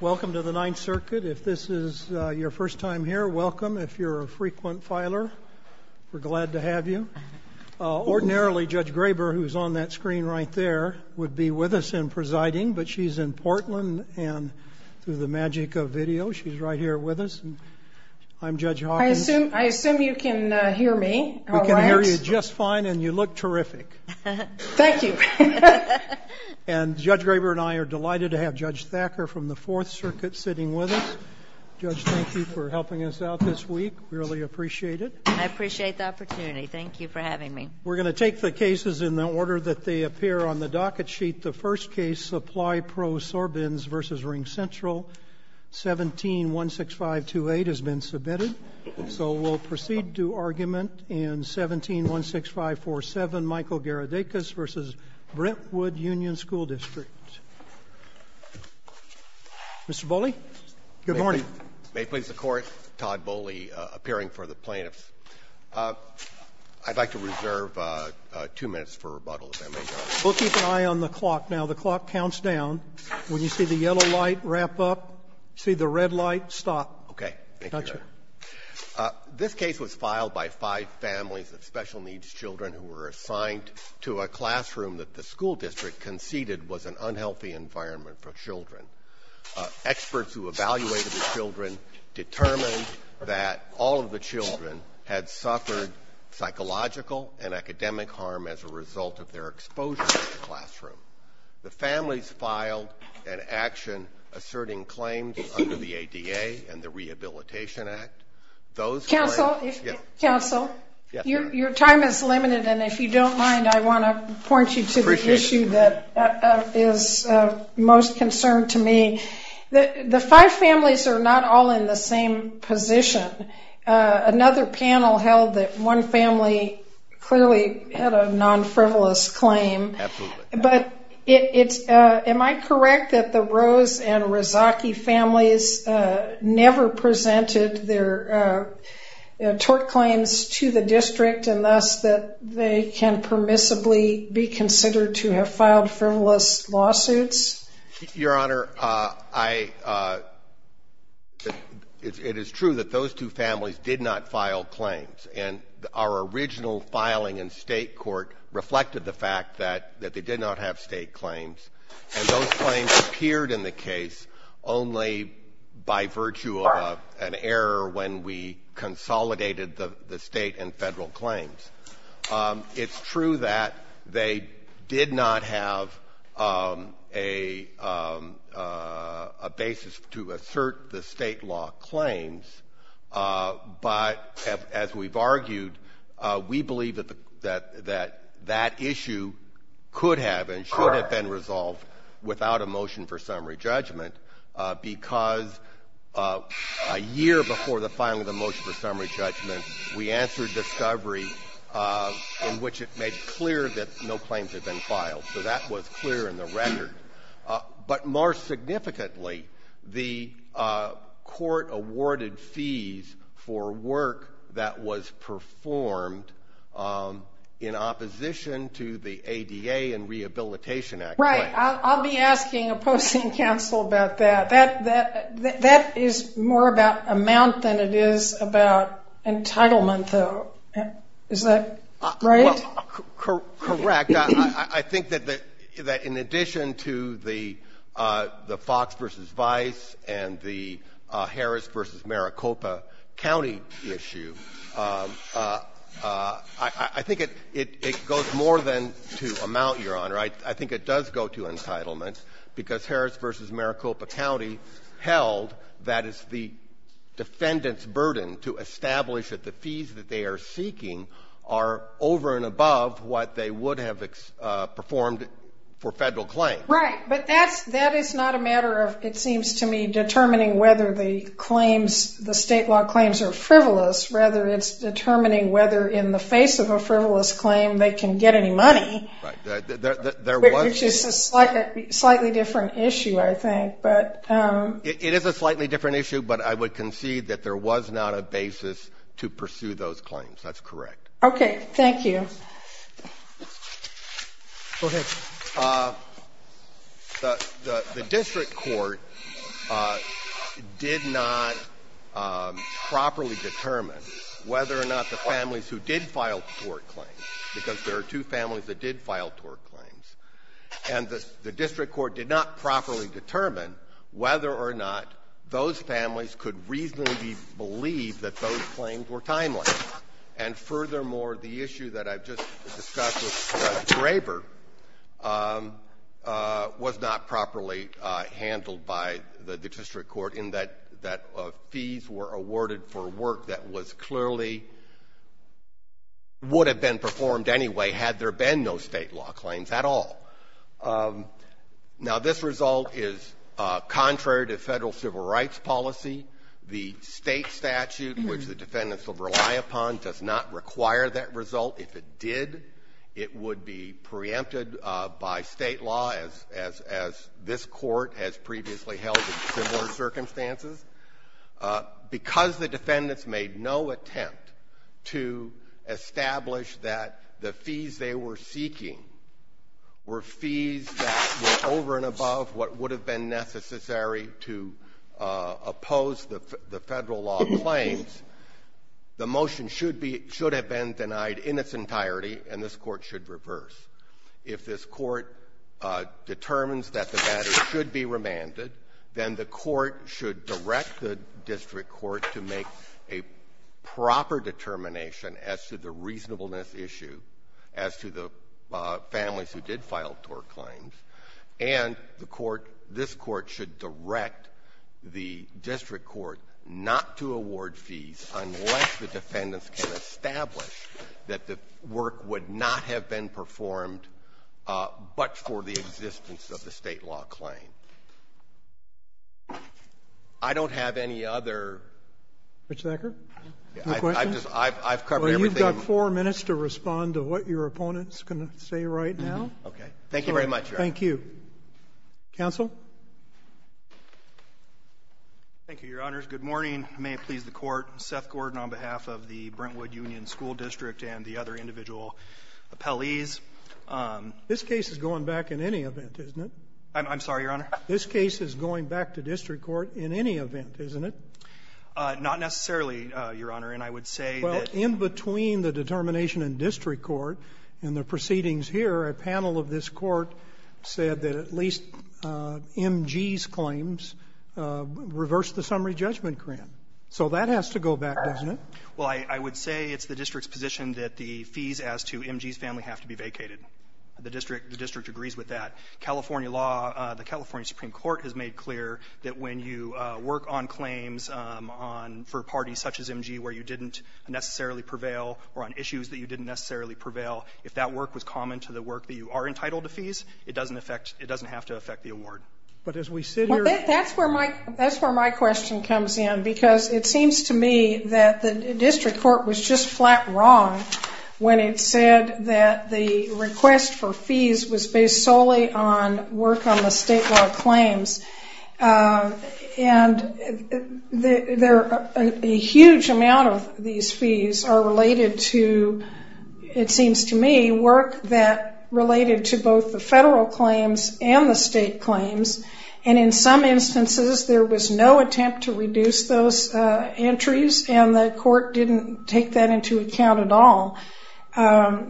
Welcome to the Ninth Circuit. If this is your first time here, welcome. If you're a frequent filer, we're glad to have you. Ordinarily, Judge Graber, who's on that screen right there, would be with us in presiding, but she's in Portland and through the magic of video, she's right here with us. I'm Judge Hawkins. I assume you can hear me. We can hear you just fine and you look terrific. Thank you. And Judge Graber and I are delighted to have Judge Thacker from the Fourth Circuit sitting with us. Judge, thank you for helping us out this week. We really appreciate it. I appreciate the opportunity. Thank you for having me. We're going to take the cases in the order that they appear on the docket sheet. The first case, Supply Pro Sorbens v. Ring Central, 1716528, has been submitted. So we'll proceed to argument in 1716547, Michael Garedakis v. Brentwood Union School District. Mr. Bowley, good morning. May it please the Court, Todd Bowley, appearing for the plaintiffs. I'd like to reserve two minutes for rebuttal, if that may be all right. We'll keep an eye on the clock. Now, the clock counts down. When you see the yellow light, wrap up. See the red light, stop. Okay. Thank you. This case was filed by five families of special needs. The classroom that the school district conceded was an unhealthy environment for children. Experts who evaluated the children determined that all of the children had suffered psychological and academic harm as a result of their exposure to the classroom. The families filed an action asserting claims under the ADA and the Rehabilitation Act. Council, your time is limited, and if you don't mind, I want to point you to the issue that is most concerned to me. The five families are not all in the same position. Another panel held that one family clearly had a non-frivolous claim. But it's, am I correct that the Rose and Rezaki families never presented their tort claims to the district, and thus that they can permissibly be considered to have filed frivolous lawsuits? Your Honor, it is true that those two families did not file claims, and our original filing in state court reflected the fact that they did not have state error when we consolidated the state and federal claims. It's true that they did not have a basis to assert the state law claims, but as we've argued, we believe that that issue could have and should have been resolved without a motion for summary judgment. Before the filing of the motion for summary judgment, we answered discovery in which it made clear that no claims had been filed. So that was clear in the record. But more significantly, the court awarded fees for work that was performed in opposition to the ADA and Rehabilitation Act. Right. I'll be asking opposing counsel about that. That is more about amount than it is about entitlement, though. Is that right? Well, correct. I think that in addition to the Fox v. Vice and the Harris v. Maricopa County issue, I think it goes more than to amount, Your Honor. I think it does go to the defendant's burden to establish that the fees that they are seeking are over and above what they would have performed for federal claims. Right. But that is not a matter of, it seems to me, determining whether the claims, the state law claims are frivolous. Rather, it's determining whether in the face of a frivolous claim, they can get any money, which is a slightly different issue, I think. It is a slightly different issue, but I would concede that there was not a basis to pursue those claims. That's correct. Okay. Thank you. Go ahead. The district court did not properly determine whether or not the families who did file tort claims, because there are two families that did file tort claims, and the district court did not properly determine whether or not those families could reasonably believe that those claims were timely. And furthermore, the issue that I've just discussed with Judge Graber was not properly handled by the district court in that fees were awarded for work that was clearly, would have been performed anyway had there been no state law claims at all. Now, this result is contrary to Federal civil rights policy. The State statute, which the defendants will rely upon, does not require that result. If it did, it would be preempted by State law, as this Court has previously held in similar circumstances. Because the defendants made no attempt to establish that the fees they were seeking were fees that were over and above what would have been necessary to oppose the Federal law claims, the motion should be — should have been denied in its entirety, and this Court should reverse. If this Court determines that the matter should be remanded, then the court should direct the district court to make a proper determination as to the reasonableness issue as to the families who did file tort claims, and the court — this Court should direct the district court not to award fees unless the defendants can establish that the work would not have been performed but for the existence of the State law claim. I don't have any other — Mr. Thacker, do you have a question? I've covered everything. Well, you've got four minutes to respond to what your opponent is going to say right Okay. Thank you very much, Your Honor. Thank you. Counsel? Thank you, Your Honors. Good morning. May it please the Court, Seth Gordon on behalf of the Brentwood Union School District and the other individual appellees. This case is going back in any event, isn't it? I'm sorry, Your Honor. This case is going back to district court in any event, isn't it? Not necessarily, Your Honor. And I would say that — Well, in between the determination in district court and the proceedings here, a panel of this Court said that at least MG's claims reversed the summary judgment grant. So that has to go back, doesn't it? Well, I would say it's the district's position that the fees as to MG's family have to be vacated. The district agrees with that. California law, the California Supreme Court has made clear that when you work on claims for parties such as MG where you didn't necessarily prevail or on issues that you didn't necessarily prevail, if that work was common to the work that you are entitled to fees, it doesn't have to affect the award. But as we sit here — That's where my question comes in, because it seems to me that the district court was just flat wrong when it said that the request for fees was based solely on work on the state law claims. And a huge amount of these fees are related to, it seems to me, work that related to both the federal claims and the state claims. And in some instances, there was no attempt to reduce those entries, and the district didn't take that into account at all.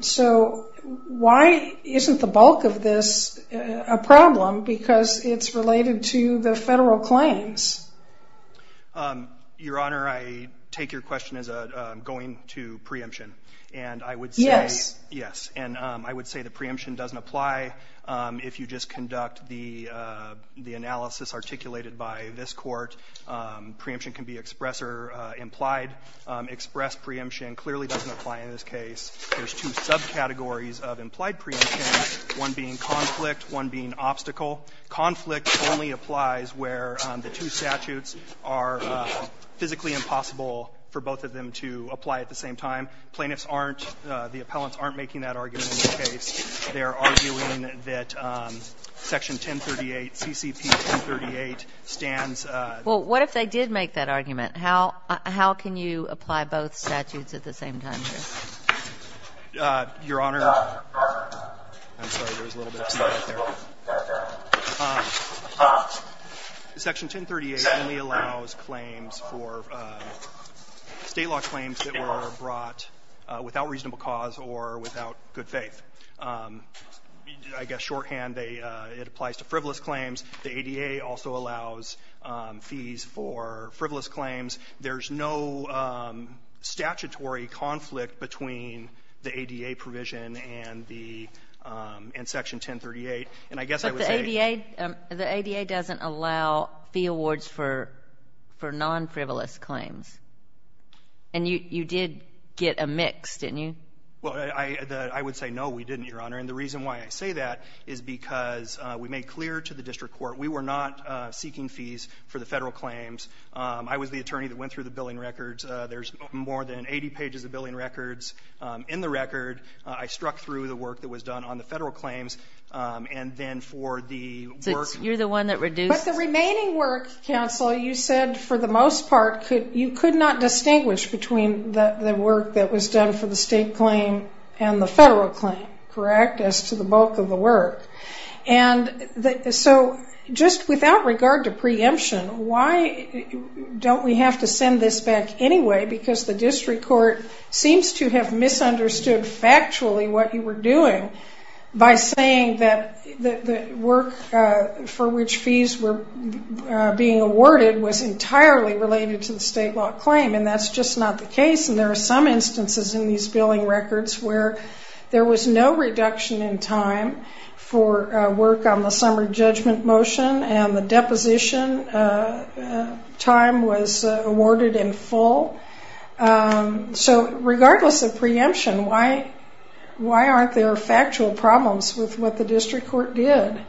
So why isn't the bulk of this a problem? Because it's related to the federal claims. Your Honor, I take your question as going to preemption. And I would say — Yes. Yes. And I would say the preemption doesn't apply. If you just conduct the analysis articulated by this court, preemption can be express or implied. Express preemption clearly doesn't apply in this case. There's two subcategories of implied preemption, one being conflict, one being obstacle. Conflict only applies where the two statutes are physically impossible for both of them to apply at the same time. Plaintiffs aren't — the appellants aren't making that argument in this case. They're arguing that Section 1038, CCP 1038, stands — Well, what if they did make that argument? How can you apply both statutes at the same time here? Your Honor, I'm sorry. There was a little bit of a stop right there. Section 1038 only allows claims for — state law claims that were brought without reasonable cause or without good faith. I guess shorthand, they — it applies to frivolous claims. The ADA also allows fees for frivolous claims. There's no statutory conflict between the ADA provision and the — and Section 1038. And I guess I would say — But the ADA — the ADA doesn't allow fee awards for non-frivolous claims. And you did get a mix, didn't you? Well, I would say, no, we didn't, Your Honor. And the reason why I say that is because we made clear to the district court, we were not seeking fees for the federal claims. I was the attorney that went through the billing records. There's more than 80 pages of billing records in the record. I struck through the work that was done on the federal claims. And then for the work — So you're the one that reduced — But the remaining work, counsel, you said for the most part, you could not distinguish between the work that was done for the state claim and the federal claim, correct, as to the bulk of the work. And so just without regard to preemption, why don't we have to send this back anyway, because the district court seems to have misunderstood factually what you were doing by saying that the work for which fees were being awarded was entirely related to the state law claim. And that's just not the case. And there are some instances in these billing records where there was no reduction in time for work on the summer judgment motion and the deposition time was awarded in full. So regardless of preemption, why aren't there factual problems with what the district court did?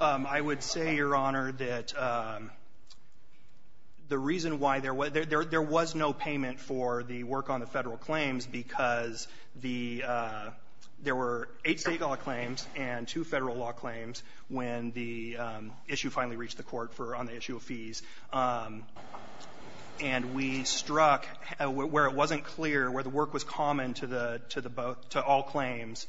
I would say, Your Honor, that the reason why there was no payment for the work on the federal claims, because there were eight state law claims and two federal law claims when the issue finally reached the court for — on the issue of fees. And we struck — where it wasn't clear, where the work was common to all claims,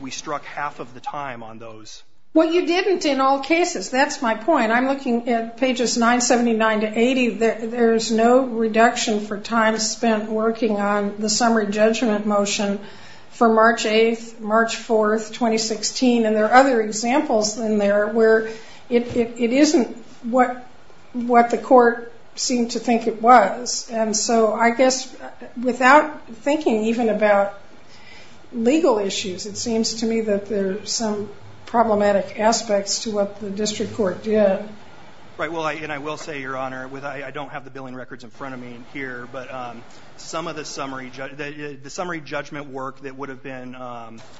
we struck half of the time on those. Well, you didn't in all cases. That's my point. I'm looking at pages 979 to 80, there's no reduction for time spent working on the summary judgment motion for March 8th, March 4th, 2016, and there are other examples in there where it isn't what the court seemed to think it was. And so I guess without thinking even about legal issues, it seems to me that there's some problematic aspects to what the district court did. Right. Well, and I will say, Your Honor, with — I don't have the billing records in front of me here, but some of the summary — the summary judgment work that would have been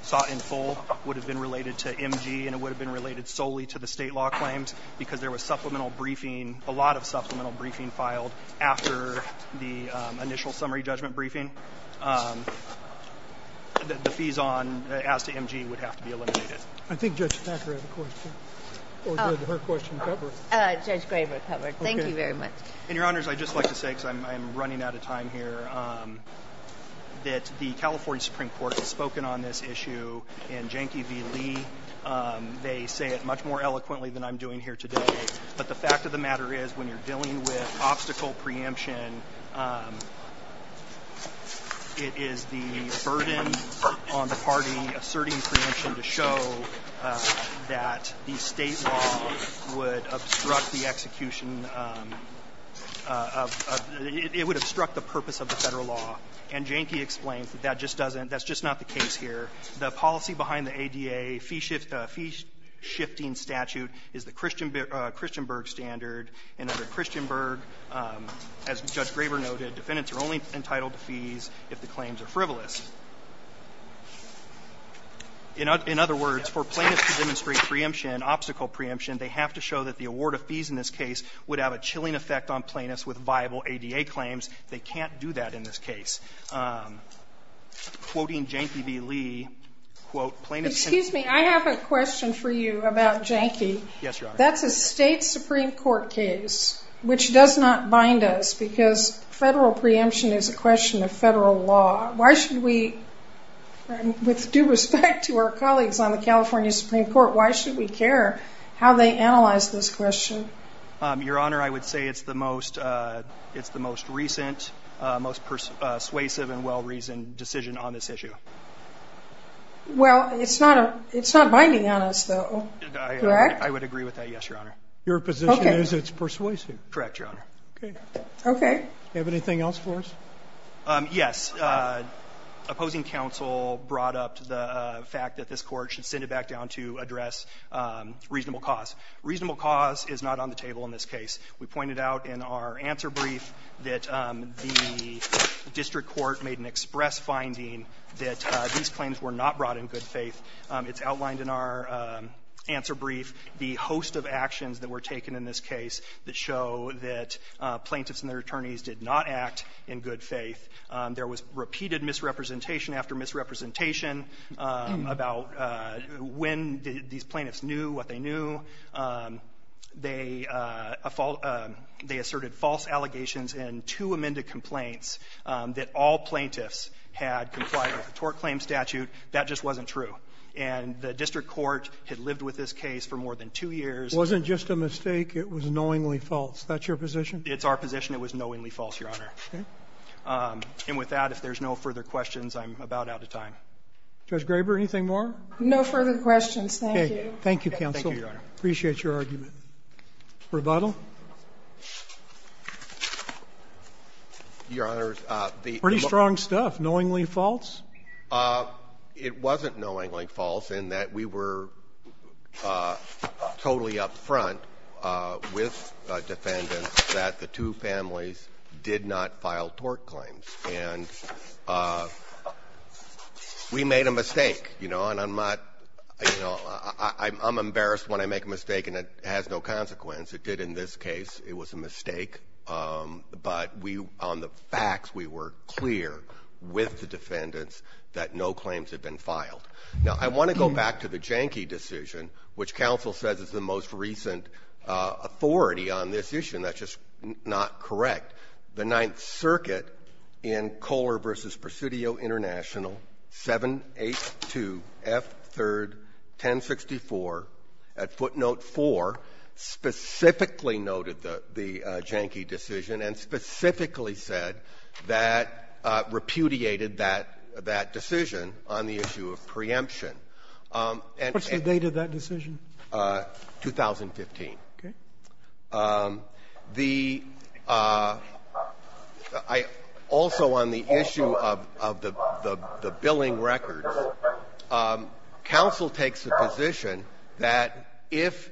sought in full would have been related to MG and it would have been related solely to the state law claims because there was supplemental briefing, a lot of supplemental briefing filed after the initial summary judgment briefing, the fees on — as to MG would have to be eliminated. I think Judge Packer had a question. Or did her question cover? Judge Graber covered. Thank you very much. And Your Honors, I'd just like to say, because I'm running out of time here, that the California Supreme Court has spoken on this issue in Janky v. Lee. They say it much more eloquently than I'm doing here today, but the fact of the It is the burden on the party asserting preemption to show that the state law would obstruct the execution of — it would obstruct the purpose of the Federal law. And Janky explains that that just doesn't — that's just not the case here. The policy behind the ADA fee shift — the fee-shifting statute is the Christian — Christianburg standard, and under Christianburg, as Judge Graber noted, defendants are only entitled to fees if the claims are frivolous. In other words, for plaintiffs to demonstrate preemption, obstacle preemption, they have to show that the award of fees in this case would have a chilling effect on plaintiffs with viable ADA claims. They can't do that in this case. Quoting Janky v. Lee, quote, plaintiffs — Excuse me. I have a question for you about Janky. Yes, Your Honor. That's a state Supreme Court case, which does not bind us because Federal preemption is a question of Federal law. Why should we — with due respect to our colleagues on the California Supreme Court, why should we care how they analyze this question? Your Honor, I would say it's the most — it's the most recent, most persuasive and well-reasoned decision on this issue. Well, it's not a — it's not binding on us, though. I would agree with that. Yes, Your Honor. Your position is it's persuasive. Correct, Your Honor. Okay. Do you have anything else for us? Yes. Opposing counsel brought up the fact that this Court should send it back down to address reasonable cause. Reasonable cause is not on the table in this case. We pointed out in our answer brief that the district court made an express finding that these claims were not brought in good faith. It's outlined in our answer brief. The host of actions that were taken in this case that show that plaintiffs and their attorneys did not act in good faith, there was repeated misrepresentation after misrepresentation about when these plaintiffs knew what they knew. They asserted false allegations in two amended complaints that all plaintiffs had complied with a tort claim statute. That just wasn't true. And the district court had lived with this case for more than two years. It wasn't just a mistake. It was knowingly false. That's your position? It's our position. It was knowingly false, Your Honor. Okay. And with that, if there's no further questions, I'm about out of time. Judge Graber, anything more? No further questions. Thank you. Thank you, counsel. Thank you, Your Honor. Your Honor, the look at this case, the plaintiffs did not act in good faith. Pretty strong stuff. Knowingly false? It wasn't knowingly false in that we were totally up front with defendants that the two families did not file tort claims. And we made a mistake, you know, and I'm not, you know, I'm embarrassed when I make a mistake and it has no consequence. It did in this case. It was a mistake, but we, on the facts, we were clear with the defendants that no claims had been filed. Now I want to go back to the Janky decision, which counsel says is the most recent authority on this issue. And that's just not correct. The Ninth Circuit in Kohler versus Presidio International, 7-8-2-F-3-10-64 at footnote four, specifically noted the Janky decision and specifically said that repudiated that decision on the issue of preemption. What's the date of that decision? 2015. Okay. The also on the issue of the billing records, counsel takes the position that if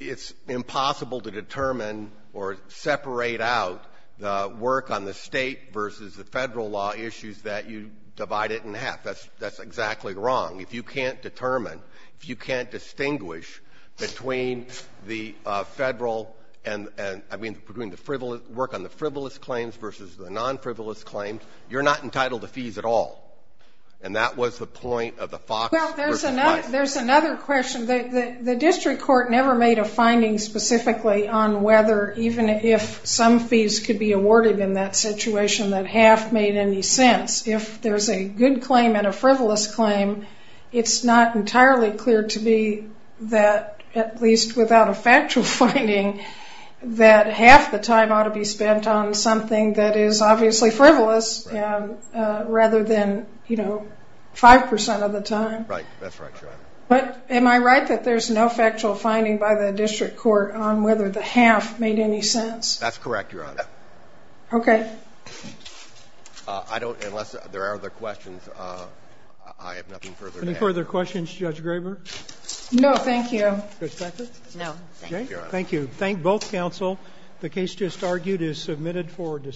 it's impossible to determine or separate out the work on the State versus the Federal law issues that you divide it in half. That's exactly wrong. If you can't determine, if you can't distinguish between the Federal and, I mean, between the work on the frivolous claims versus the non-frivolous claims, you're not entitled to fees at all. And that was the point of the Fox versus White. There's another question. The district court never made a finding specifically on whether, even if some fees could be awarded in that situation, that half made any sense. If there's a good claim and a frivolous claim, it's not entirely clear to me that at least without a factual finding, that half the time ought to be spent on something that is obviously frivolous rather than, you know, 5% of the time. Right. That's right. But am I right that there's no factual finding by the district court on whether the half made any sense? That's correct, Your Honor. Okay. I don't, unless there are other questions, I have nothing further to add. Any further questions, Judge Graber? No, thank you. Ms. Patrick? No, thank you, Your Honor. Thank you. Thank both counsel. The case just argued is submitted for discussion.